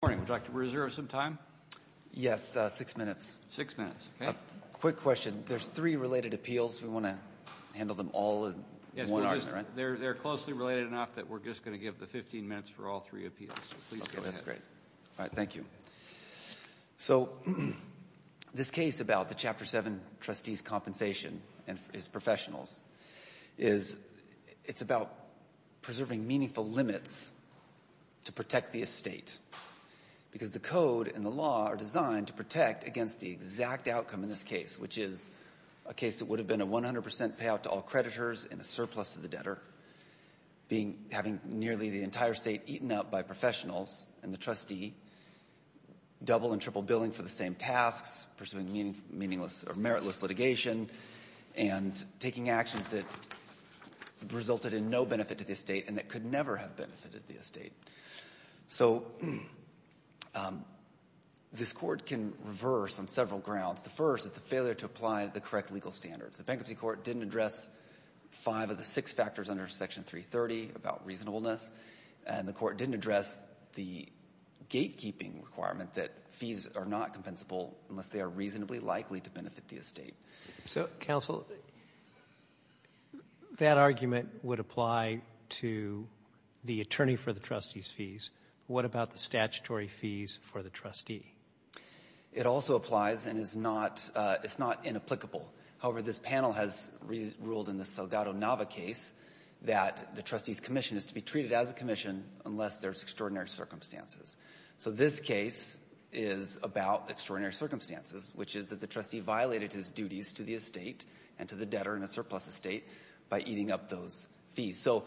Morning. Would you like to reserve some time? Yes. Six minutes. Six minutes. Okay. Quick question. There's three related appeals. We want to handle them all in one hour, right? Yes. They're closely related enough that we're just going to give the 15 minutes for all three appeals. Okay. That's great. Thank you. So, this case about the Chapter 7 trustee's compensation and his professionals, it's about preserving meaningful limits to protect the estate. Because the code and the law are designed to protect against the exact outcome in this case, which is a case that would have been a 100% payout to all creditors and a surplus to the debtor, having nearly the entire state eaten up by professionals and the trustee, double and triple billing for the same tasks, pursuing meritless litigation, and taking actions that resulted in no benefit to the estate and that could never have benefited the estate. So, this court can reverse on several grounds. The first is the failure to apply the correct legal standards. The bankruptcy court didn't address five of the six factors under Section 330 about reasonableness, and the court didn't address the gatekeeping requirement that fees are not compensable unless they are reasonably likely to benefit the estate. So, counsel, that argument would apply to the attorney for the trustee's fees. What about the statutory fees for the trustee? It also applies and it's not inapplicable. However, this panel has ruled in the Salgado-Nava case that the trustee's commission is to be treated as a commission unless there's extraordinary circumstances. So, this case is about extraordinary circumstances, which is that the trustee violated his duties to the estate and to the debtor in a surplus estate by eating up those fees. So,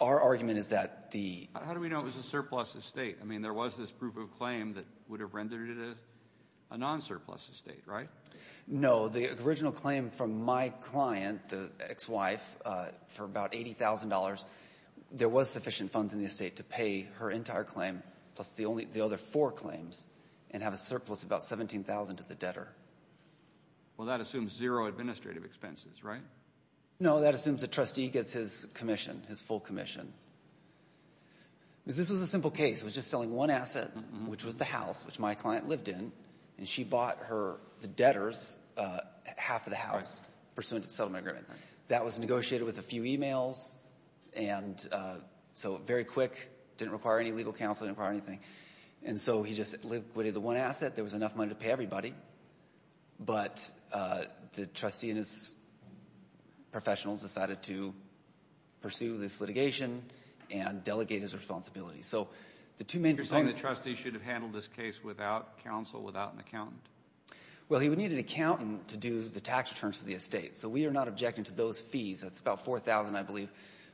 our argument is that the— How do we know it was a surplus estate? I mean, there was this proof of claim that would have rendered it a non-surplus estate, right? No. The original claim from my client, the ex-wife, for about $80,000, there was sufficient funds in the estate to pay her entire claim plus the other four claims and have a surplus of about $17,000 to the debtor. Well, that assumes zero administrative expenses, right? No, that assumes the trustee gets his commission, his full commission. This was a simple case. It was just selling one asset, which was the house, which my client lived in, and she bought the debtor's half of the house pursuant to the settlement agreement. That was negotiated with a few e-mails and so very quick. It didn't require any legal counsel. It didn't require anything. And so he just liquidated the one asset. There was enough money to pay everybody, but the trustee and his professionals decided to pursue this litigation and delegate his responsibility. You're saying that trustees should have handled this case without counsel, without an accountant? Well, he would need an accountant to do the tax returns for the estate. So we are not objecting to those fees. It's about $4,000, I believe,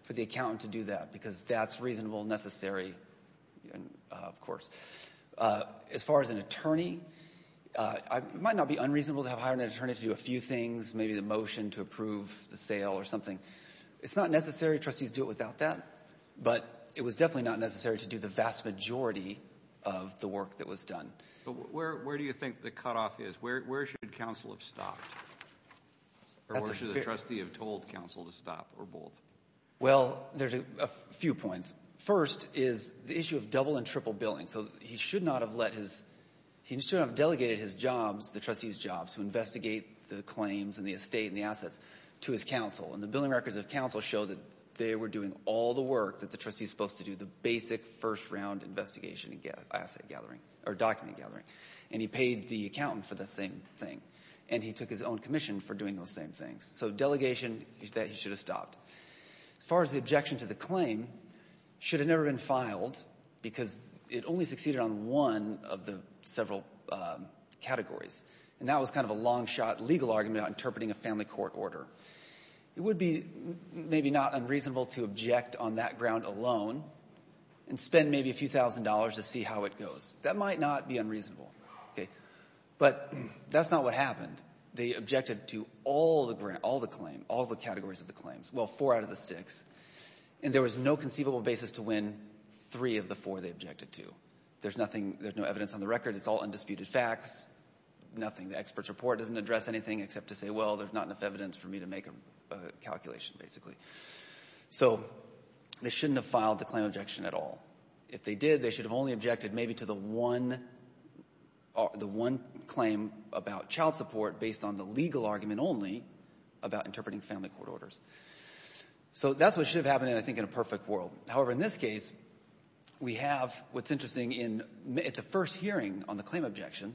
for the accountant to do that because that's reasonable, necessary, of course. As far as an attorney, it might not be unreasonable to have a higher net attorney to do a few things, maybe the motion to approve the sale or something. It's not necessary. Trustees do it without that. But it was definitely not necessary to do the vast majority of the work that was done. Where do you think the cutoff is? Where should counsel have stopped or where should the trustee have told counsel to stop or both? Well, there's a few points. First is the issue of double and triple billing. So he should not have let his – he should not have delegated his jobs, the trustee's jobs, to investigate the claims and the estate and the assets to his counsel. And the billing records of counsel show that they were doing all the work that the trustee is supposed to do, the basic first-round investigation and asset gathering or document gathering. And he paid the accountant for the same thing. And he took his own commission for doing those same things. So delegation, that he should have stopped. As far as the objection to the claim, it should have never been filed because it only succeeded on one of the several categories. And that was kind of a long-shot legal argument about interpreting a family court order. It would be maybe not unreasonable to object on that ground alone and spend maybe a few thousand dollars to see how it goes. That might not be unreasonable. But that's not what happened. They objected to all the categories of the claims, well, four out of the six. And there was no conceivable basis to win three of the four they objected to. There's no evidence on the record. It's all undisputed facts, nothing. The expert's report doesn't address anything except to say, well, there's not enough evidence for me to make a calculation, basically. So they shouldn't have filed the claim objection at all. If they did, they should have only objected maybe to the one claim about child support based on the legal argument only about interpreting family court orders. So that's what should have happened, I think, in a perfect world. However, in this case, we have what's interesting. At the first hearing on the claim objection,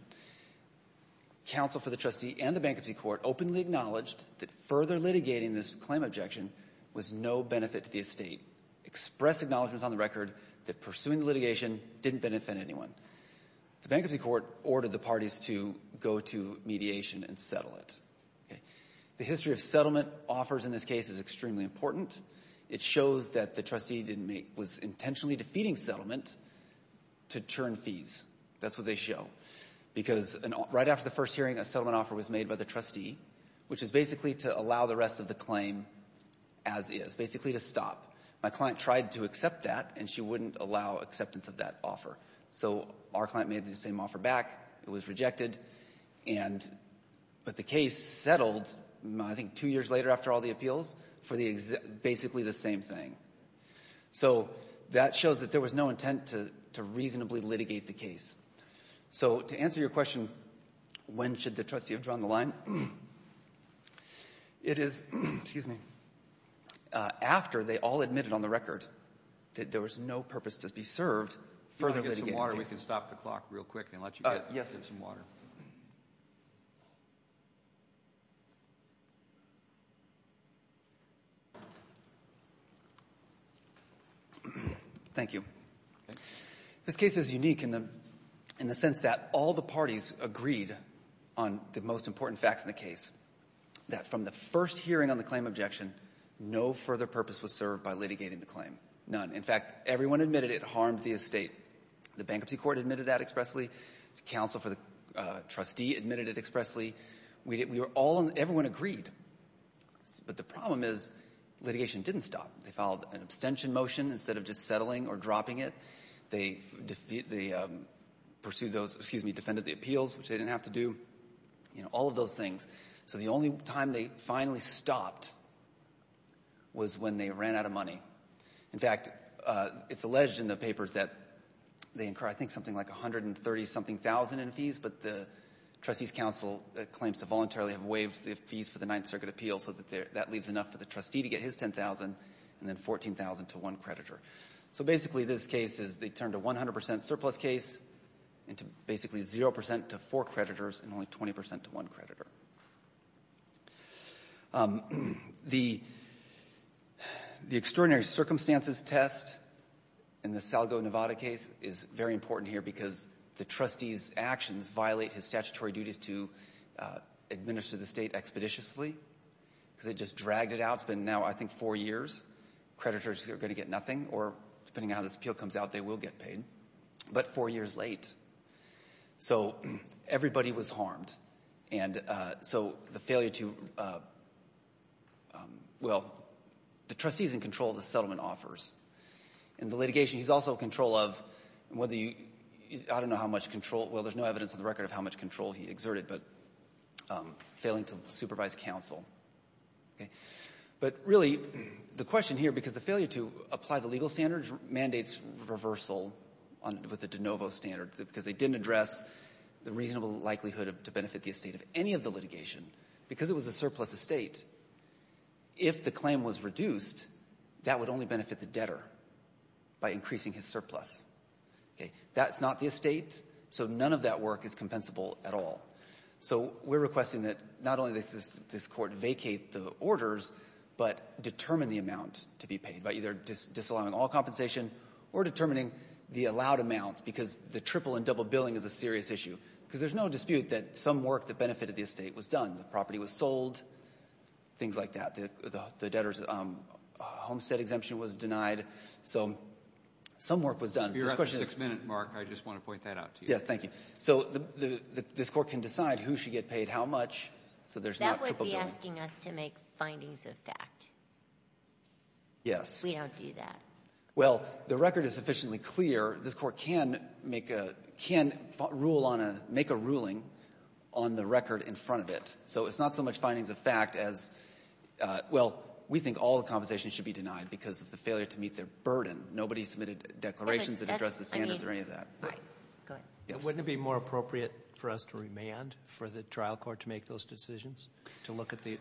counsel for the trustee and the bankruptcy court openly acknowledged that further litigating this claim objection was no benefit to the estate, expressed acknowledgments on the record that pursuing the litigation didn't benefit anyone. The bankruptcy court ordered the parties to go to mediation and settle it. The history of settlement offers in this case is extremely important. It shows that the trustee was intentionally defeating settlement to turn fees. That's what they show. Because right after the first hearing, a settlement offer was made by the trustee, which is basically to allow the rest of the claim as is, basically to stop. My client tried to accept that, and she wouldn't allow acceptance of that offer. So our client made the same offer back. It was rejected. But the case settled, I think two years later after all the appeals, for basically the same thing. So that shows that there was no intent to reasonably litigate the case. So to answer your question, when should the trustee have drawn the line, it is after they all admitted on the record that there was no purpose to be served further litigating the case. If you have water, we can stop the clock real quick and let you get some water. Thank you. This case is unique in the sense that all the parties agreed on the most important facts in the case, that from the first hearing on the claim objection, no further purpose was served by litigating the claim, none. In fact, everyone admitted it harmed the estate. The bankruptcy court admitted that expressly. The counsel for the trustee admitted it expressly. Everyone agreed. But the problem is litigation didn't stop. They filed an abstention motion instead of just settling or dropping it. They defended the appeals, which they didn't have to do, all of those things. So the only time they finally stopped was when they ran out of money. In fact, it's alleged in the papers that they incur, I think, something like $130,000 in fees, but the trustee's counsel claims to voluntarily have waived the fees for the Ninth Circuit Appeals, so that leaves enough for the trustee to get his $10,000 and then $14,000 to one creditor. So basically this case is they turned a 100% surplus case into basically 0% to four creditors and only 20% to one creditor. The extraordinary circumstances test in the Salgo-Nevada case is very important here because the trustee's actions violate his statutory duties to administer the estate expeditiously because they just dragged it out. It's been now, I think, four years. Creditors are going to get nothing, or depending on how this appeal comes out, they will get paid, but four years late. So everybody was harmed, and so the failure to – well, the trustee's in control of the settlement offers. In the litigation, he's also in control of whether you – I don't know how much control – well, there's no evidence on the record of how much control he exerted, but failing to supervise counsel. But really the question here, because the failure to apply the legal standards mandates reversal with the de novo standards because they didn't address the reasonable likelihood to benefit the estate of any of the litigation. Because it was a surplus estate, if the claim was reduced, that would only benefit the debtor by increasing his surplus. That's not the estate, so none of that work is compensable at all. So we're requesting that not only does this court vacate the orders, but determine the amount to be paid by either disallowing all compensation or determining the allowed amounts because the triple and double billing is a serious issue. Because there's no dispute that some work that benefited the estate was done. The property was sold, things like that. The debtor's homestead exemption was denied, so some work was done. If you're up to six minutes, Mark, I just want to point that out to you. Yes, thank you. So this court can decide who should get paid how much so there's not triple billing. That would be asking us to make findings of fact. Yes. We don't do that. Well, the record is sufficiently clear. This court can make a ruling on the record in front of it. So it's not so much findings of fact as, well, we think all the compensation should be denied because of the failure to meet their burden. Nobody submitted declarations that addressed the standards or any of that. All right. Go ahead. Wouldn't it be more appropriate for us to remand for the trial court to make those decisions, to look at the?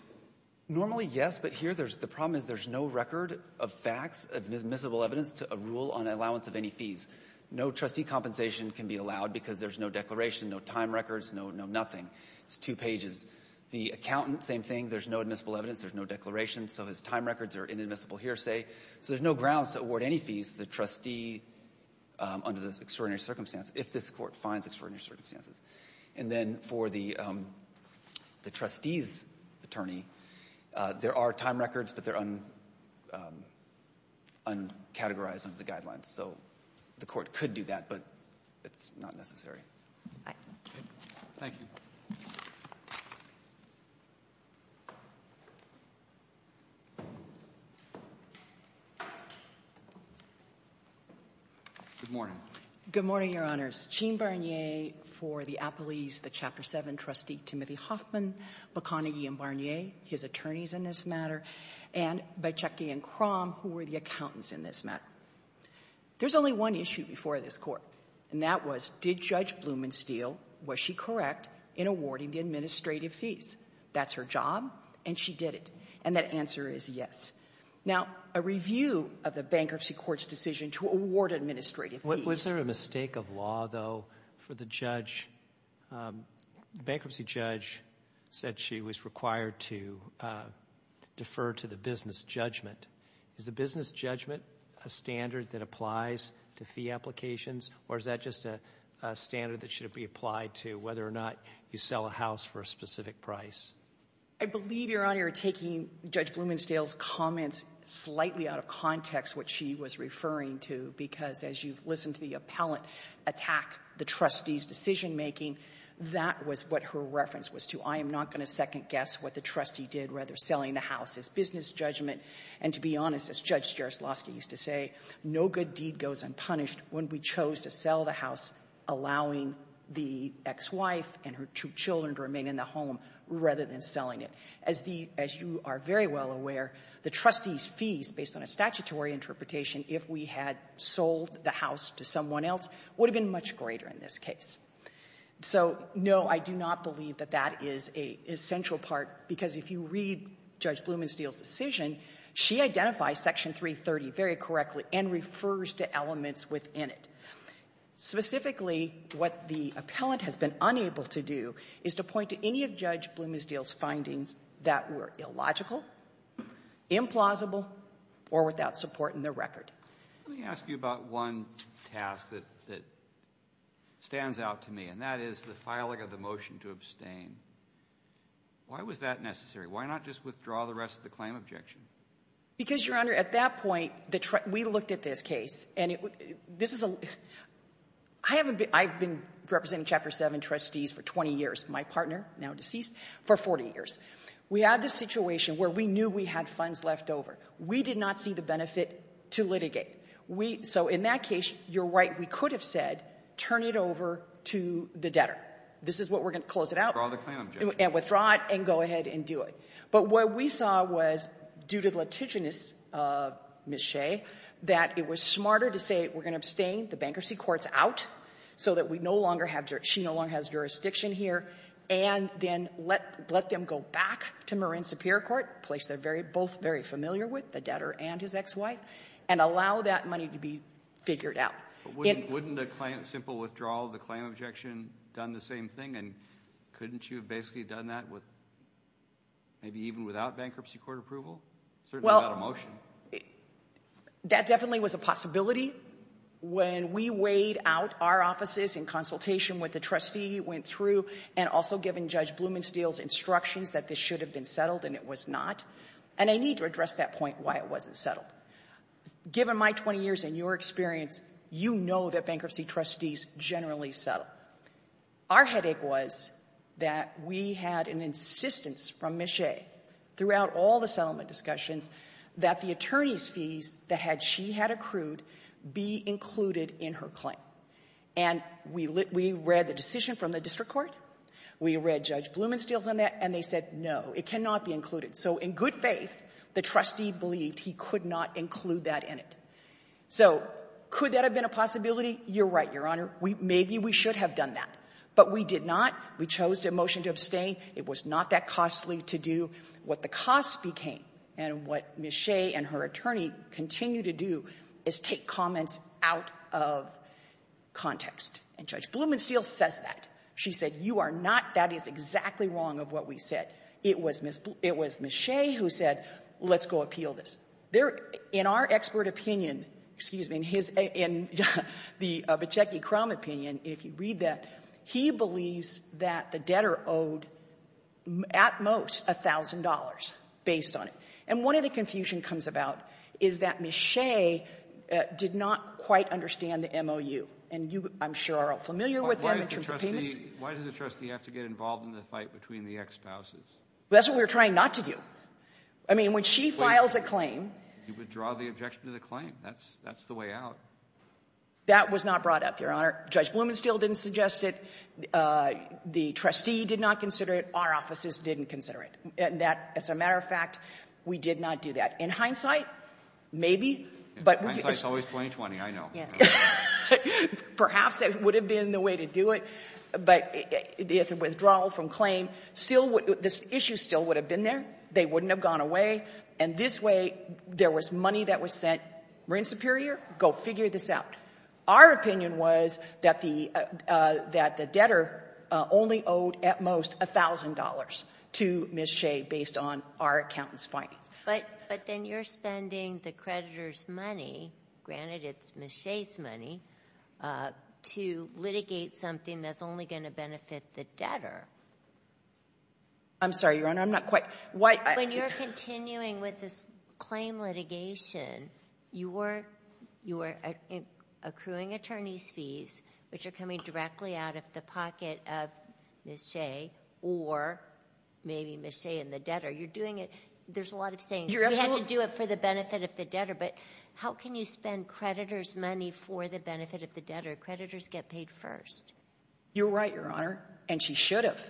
Normally, yes, but here the problem is there's no record of facts, admissible evidence to a rule on allowance of any fees. No trustee compensation can be allowed because there's no declaration, no time records, no nothing. It's two pages. The accountant, same thing. There's no admissible evidence. There's no declaration, so his time records are inadmissible hearsay. So there's no grounds to award any fees to the trustee under those extraordinary circumstances if this court finds extraordinary circumstances. And then for the trustee's attorney, there are time records, but they're uncategorized under the guidelines. So the court could do that, but it's not necessary. All right. Thank you. Good morning. Good morning, Your Honors. Gene Barnier for the Appellees, the Chapter 7 trustee, Timothy Hoffman, McConaughey and Barnier, his attorneys in this matter, and Beicecki and Crom, who were the accountants in this matter. There's only one issue before this Court, and that was did Judge Blumensteel, was she correct in awarding the administrative fees? That's her job, and she did it, and that answer is yes. Now, a review of the bankruptcy court's decision to award administrative fees. Was there a mistake of law, though, for the judge? The bankruptcy judge said she was required to defer to the business judgment. Is the business judgment a standard that applies to fee applications, or is that just a standard that should be applied to whether or not you sell a house for a specific price? I believe, Your Honor, you're taking Judge Blumensteel's comment slightly out of context, what she was referring to, because as you've listened to the appellant attack the trustee's decision-making, that was what her reference was to. I am not going to second-guess what the trustee did rather than selling the house as business judgment. And to be honest, as Judge Jaroslawski used to say, no good deed goes unpunished when we chose to sell the house, allowing the ex-wife and her two children to remain in the home rather than selling it. As the — as you are very well aware, the trustee's fees, based on a statutory interpretation, if we had sold the house to someone else, would have been much greater in this case. So, no, I do not believe that that is an essential part, because if you read Judge Blumensteel's decision, she identifies Section 330 very correctly and refers to elements within it. Specifically, what the appellant has been unable to do is to point to any of Judge Blumensteel's findings that were illogical, implausible, or without support in the record. Let me ask you about one task that — that stands out to me, and that is the filing of the motion to abstain. Why was that necessary? Why not just withdraw the rest of the claim objection? Because, Your Honor, at that point, the — we looked at this case, and this is a — I haven't been — I've been representing Chapter 7 trustees for 20 years. My partner, now deceased, for 40 years. We had this situation where we knew we had funds left over. We did not see the benefit to litigate. We — so in that case, you're right. We could have said, turn it over to the debtor. This is what we're going to — close it out. Withdraw the claim objection. And withdraw it and go ahead and do it. But what we saw was, due to the litiginous, Ms. Shea, that it was smarter to say, we're going to abstain the bankruptcy courts out, so that we no longer have — she no longer has jurisdiction here, and then let them go back to Marin Superior Court, a place they're both very familiar with, the debtor and his ex-wife, and allow that money to be figured out. But wouldn't a simple withdrawal of the claim objection done the same thing? And couldn't you have basically done that with — maybe even without bankruptcy court approval? Certainly without a motion. Well, that definitely was a possibility. When we weighed out our offices in consultation with the trustee, went through, and also given Judge Blumensteel's instructions that this should have been settled, and it was not. And I need to address that point, why it wasn't settled. Given my 20 years and your experience, you know that bankruptcy trustees generally settle. Our headache was that we had an insistence from Ms. Shea throughout all the settlement discussions that the attorney's fees that she had accrued be included in her claim. And we read the decision from the district court, we read Judge Blumensteel's on that, and they said, no, it cannot be included. So in good faith, the trustee believed he could not include that in it. So could that have been a possibility? You're right, Your Honor. Maybe we should have done that. But we did not. We chose to motion to abstain. It was not that costly to do. What the costs became, and what Ms. Shea and her attorney continue to do, is take comments out of context. And Judge Blumensteel says that. She said, you are not — that is exactly wrong of what we said. It was Ms. Shea who said, let's go appeal this. In our expert opinion, excuse me, in his — in the Bicecki-Crum opinion, if you read that, he believes that the debtor owed, at most, $1,000 based on it. And one of the confusion comes about is that Ms. Shea did not quite understand the MOU, and you, I'm sure, are all familiar with them in terms of payments. Why does the trustee have to get involved in the fight between the ex-spouses? That's what we were trying not to do. I mean, when she files a claim — You withdraw the objection to the claim. That's the way out. That was not brought up, Your Honor. Judge Blumensteel didn't suggest it. The trustee did not consider it. Our offices didn't consider it. And that, as a matter of fact, we did not do that. In hindsight, maybe, but — In hindsight, it's always 2020. I know. Perhaps that would have been the way to do it. But withdrawal from claim, this issue still would have been there. They wouldn't have gone away. And this way, there was money that was sent. We're in Superior. Go figure this out. Our opinion was that the debtor only owed, at most, $1,000 to Ms. Shea based on our accountant's findings. But then you're spending the creditor's money, granted it's Ms. Shea's money, to litigate something that's only going to benefit the debtor. I'm sorry, Your Honor. I'm not quite — When you're continuing with this claim litigation, you are accruing attorney's fees, which are coming directly out of the pocket of Ms. Shea or maybe Ms. Shea and the debtor. You're doing it — there's a lot of sayings. You have to do it for the benefit of the debtor. But how can you spend creditor's money for the benefit of the debtor? Creditors get paid first. You're right, Your Honor, and she should have.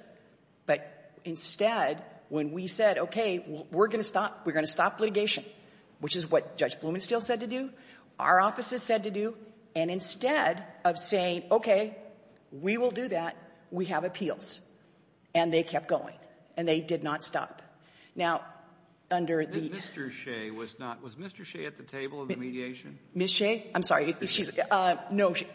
But instead, when we said, okay, we're going to stop litigation, which is what Judge Blumenstiel said to do, our offices said to do, and instead of saying, okay, we will do that, we have appeals. And they kept going, and they did not stop. Now, under the — Mr. Shea was not — was Mr. Shea at the table of the mediation? Ms. Shea? I'm sorry. She's — no, she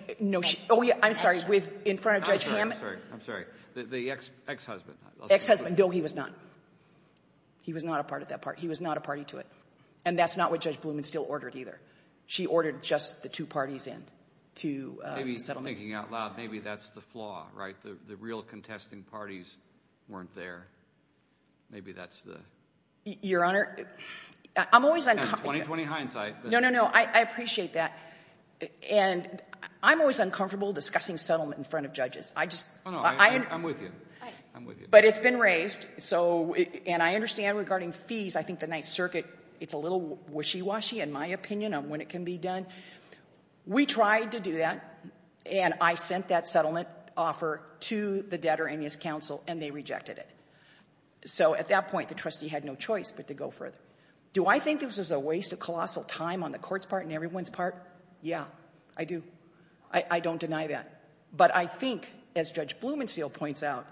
— oh, yeah, I'm sorry. In front of Judge Hammond — I'm sorry. I'm sorry. The ex-husband. Ex-husband. No, he was not. He was not a part of that part. He was not a party to it. And that's not what Judge Blumenstiel ordered, either. She ordered just the two parties in to settle — Maybe, thinking out loud, maybe that's the flaw, right? The real contesting parties weren't there. Maybe that's the — Your Honor, I'm always — 20-20 hindsight. No, no, no, I appreciate that. And I'm always uncomfortable discussing settlement in front of judges. I just — Oh, no, I'm with you. I'm with you. But it's been raised, so — and I understand regarding fees, I think the Ninth Circuit, it's a little wishy-washy, in my opinion, on when it can be done. We tried to do that, and I sent that settlement offer to the debtor and his counsel, and they rejected it. So at that point, the trustee had no choice but to go further. Do I think this was a waste of colossal time on the Court's part and everyone's part? Yeah, I do. I don't deny that. But I think, as Judge Blumenstiel points out,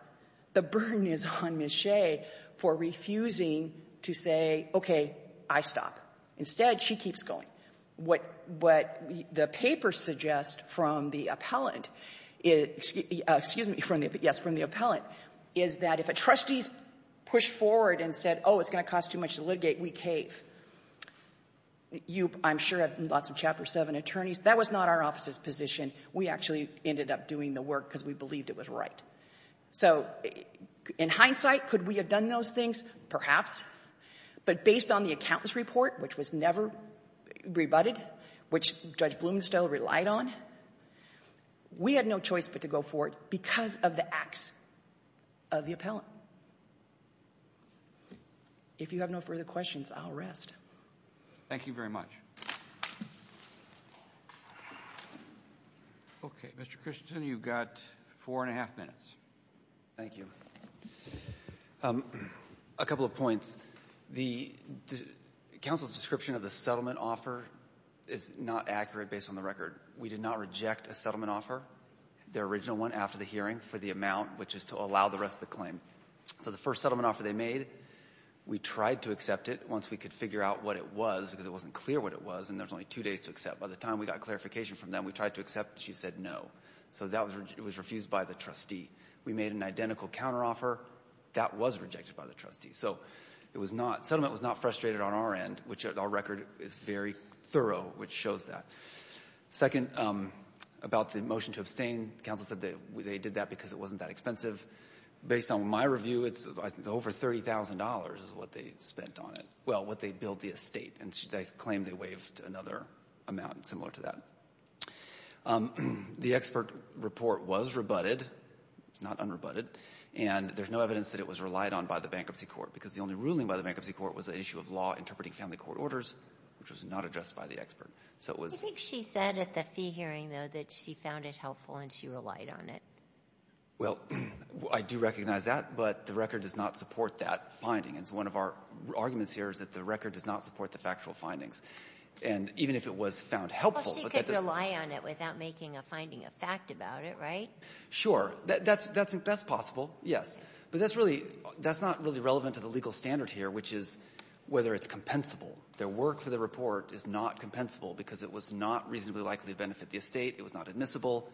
the burden is on Ms. Shea for refusing to say, okay, I stop. Instead, she keeps going. What the papers suggest from the appellant — excuse me, yes, from the appellant is that if a trustee's pushed forward and said, oh, it's going to cost too much to litigate, we cave. You, I'm sure, have lots of Chapter 7 attorneys. That was not our office's position. We actually ended up doing the work because we believed it was right. So in hindsight, could we have done those things? Perhaps. But based on the accountant's report, which was never rebutted, which Judge Blumenstiel relied on, we had no choice but to go forward because of the acts of the appellant. If you have no further questions, I'll rest. Thank you very much. Okay, Mr. Christensen, you've got four and a half minutes. Thank you. A couple of points. The counsel's description of the settlement offer is not accurate based on the record. We did not reject a settlement offer, the original one, after the hearing for the amount, which is to allow the rest of the claim. So the first settlement offer they made, we tried to accept it once we could figure out what it was because it wasn't clear what it was and there was only two days to accept. By the time we got clarification from them, we tried to accept it. She said no. So that was refused by the trustee. We made an identical counteroffer. That was rejected by the trustee. So it was not, settlement was not frustrated on our end, which our record is very thorough, which shows that. Second, about the motion to abstain, counsel said that they did that because it wasn't that expensive. Based on my review, it's over $30,000 is what they spent on it. Well, what they billed the estate and they claimed they waived another amount similar to that. The expert report was rebutted, not unrebutted, and there's no evidence that it was relied on by the Bankruptcy Court because the only ruling by the Bankruptcy Court was an issue of law interpreting family court orders, which was not addressed by the expert. So it was ‑‑ I think she said at the fee hearing, though, that she found it helpful and she relied on it. Well, I do recognize that, but the record does not support that finding. And so one of our arguments here is that the record does not support the factual findings. And even if it was found helpful ‑‑ Well, she could rely on it without making a finding of fact about it, right? Sure. That's possible, yes. But that's really ‑‑ that's not really relevant to the legal standard here, which is whether it's compensable. The work for the report is not compensable because it was not reasonably likely to benefit the estate. It was not admissible.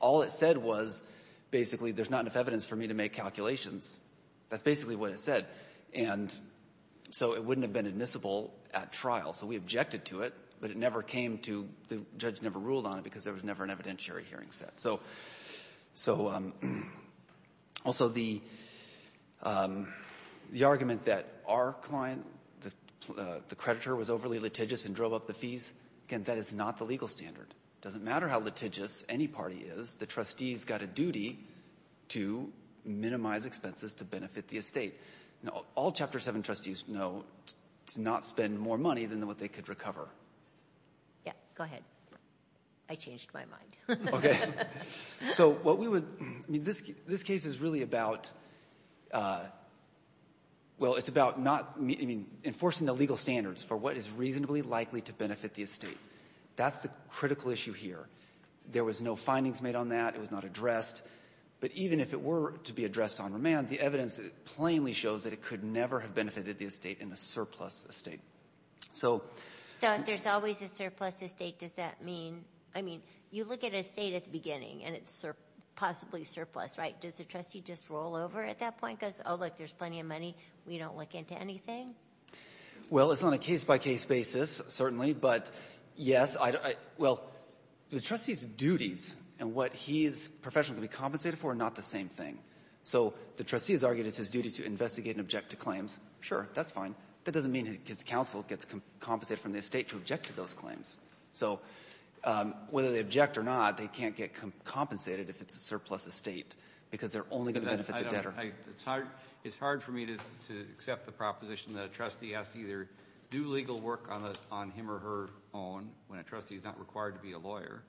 All it said was basically there's not enough evidence for me to make calculations. That's basically what it said. And so it wouldn't have been admissible at trial. So we objected to it, but it never came to ‑‑ the judge never ruled on it because there was never an evidentiary hearing set. So also the argument that our client, the creditor, was overly litigious and drove up the fees, again, that is not the legal standard. It doesn't matter how litigious any party is. The trustees got a duty to minimize expenses to benefit the estate. All Chapter 7 trustees know to not spend more money than what they could recover. Yeah. Go ahead. I changed my mind. So what we would ‑‑ I mean, this case is really about ‑‑ well, it's about not ‑‑ I mean, enforcing the legal standards for what is reasonably likely to benefit the estate. That's the critical issue here. There was no findings made on that. It was not addressed. But even if it were to be addressed on remand, the evidence plainly shows that it could never have benefited the estate in a surplus estate. So ‑‑ So if there's always a surplus estate, does that mean ‑‑ I mean, you look at an estate at the beginning, and it's possibly surplus, right? Does the trustee just roll over at that point? Goes, oh, look, there's plenty of money. We don't look into anything? Well, it's on a case‑by‑case basis, certainly. But, yes, I ‑‑ well, the trustee's duties and what he's professionally compensated for are not the same thing. So the trustee has argued it's his duty to investigate and object to claims. Sure, that's fine. That doesn't mean his counsel gets compensated from the estate to object to those claims. So whether they object or not, they can't get compensated if it's a surplus estate, because they're only going to benefit the debtor. It's hard for me to accept the proposition that a trustee has to either do legal work on him or her own, when a trustee is not required to be a lawyer,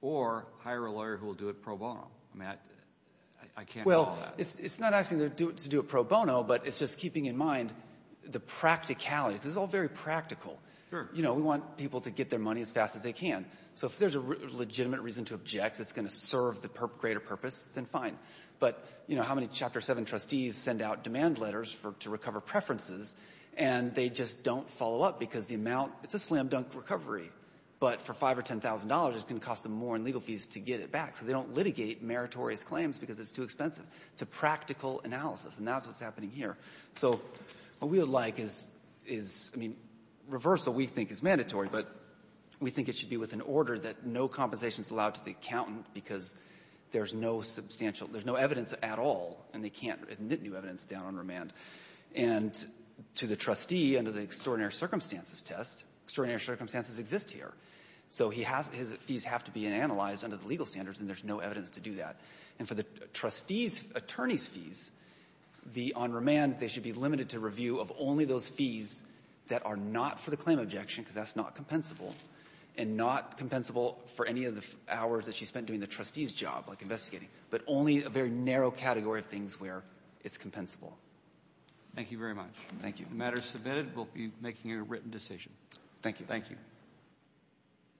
or hire a lawyer who will do it pro bono. I mean, I can't do all that. Well, it's not asking them to do it pro bono, but it's just keeping in mind the practicality. This is all very practical. Sure. You know, we want people to get their money as fast as they can. So if there's a legitimate reason to object that's going to serve the greater purpose, then fine. But, you know, how many Chapter 7 trustees send out demand letters to recover preferences, and they just don't follow up because the amount — it's a slam-dunk recovery, but for $5,000 or $10,000 it's going to cost them more in legal fees to get it back. So they don't litigate meritorious claims because it's too expensive. It's a practical analysis, and that's what's happening here. So what we would like is — I mean, reversal we think is mandatory, but we think it should be with an order that no compensation is allowed to the accountant because there's no substantial — there's no evidence at all, and they can't admit new evidence down on remand. And to the trustee under the extraordinary circumstances test, extraordinary circumstances exist here. So he has — his fees have to be analyzed under the legal standards, and there's no evidence to do that. And for the trustee's attorney's fees, the — on remand, they should be limited to review of only those fees that are not for the claim of objection because that's not compensable, and not compensable for any of the hours that she spent doing the trustee's job, like investigating, but only a very narrow category of things where it's compensable. Thank you very much. Thank you. The matter is submitted. We'll be making a written decision. Thank you. Thank you.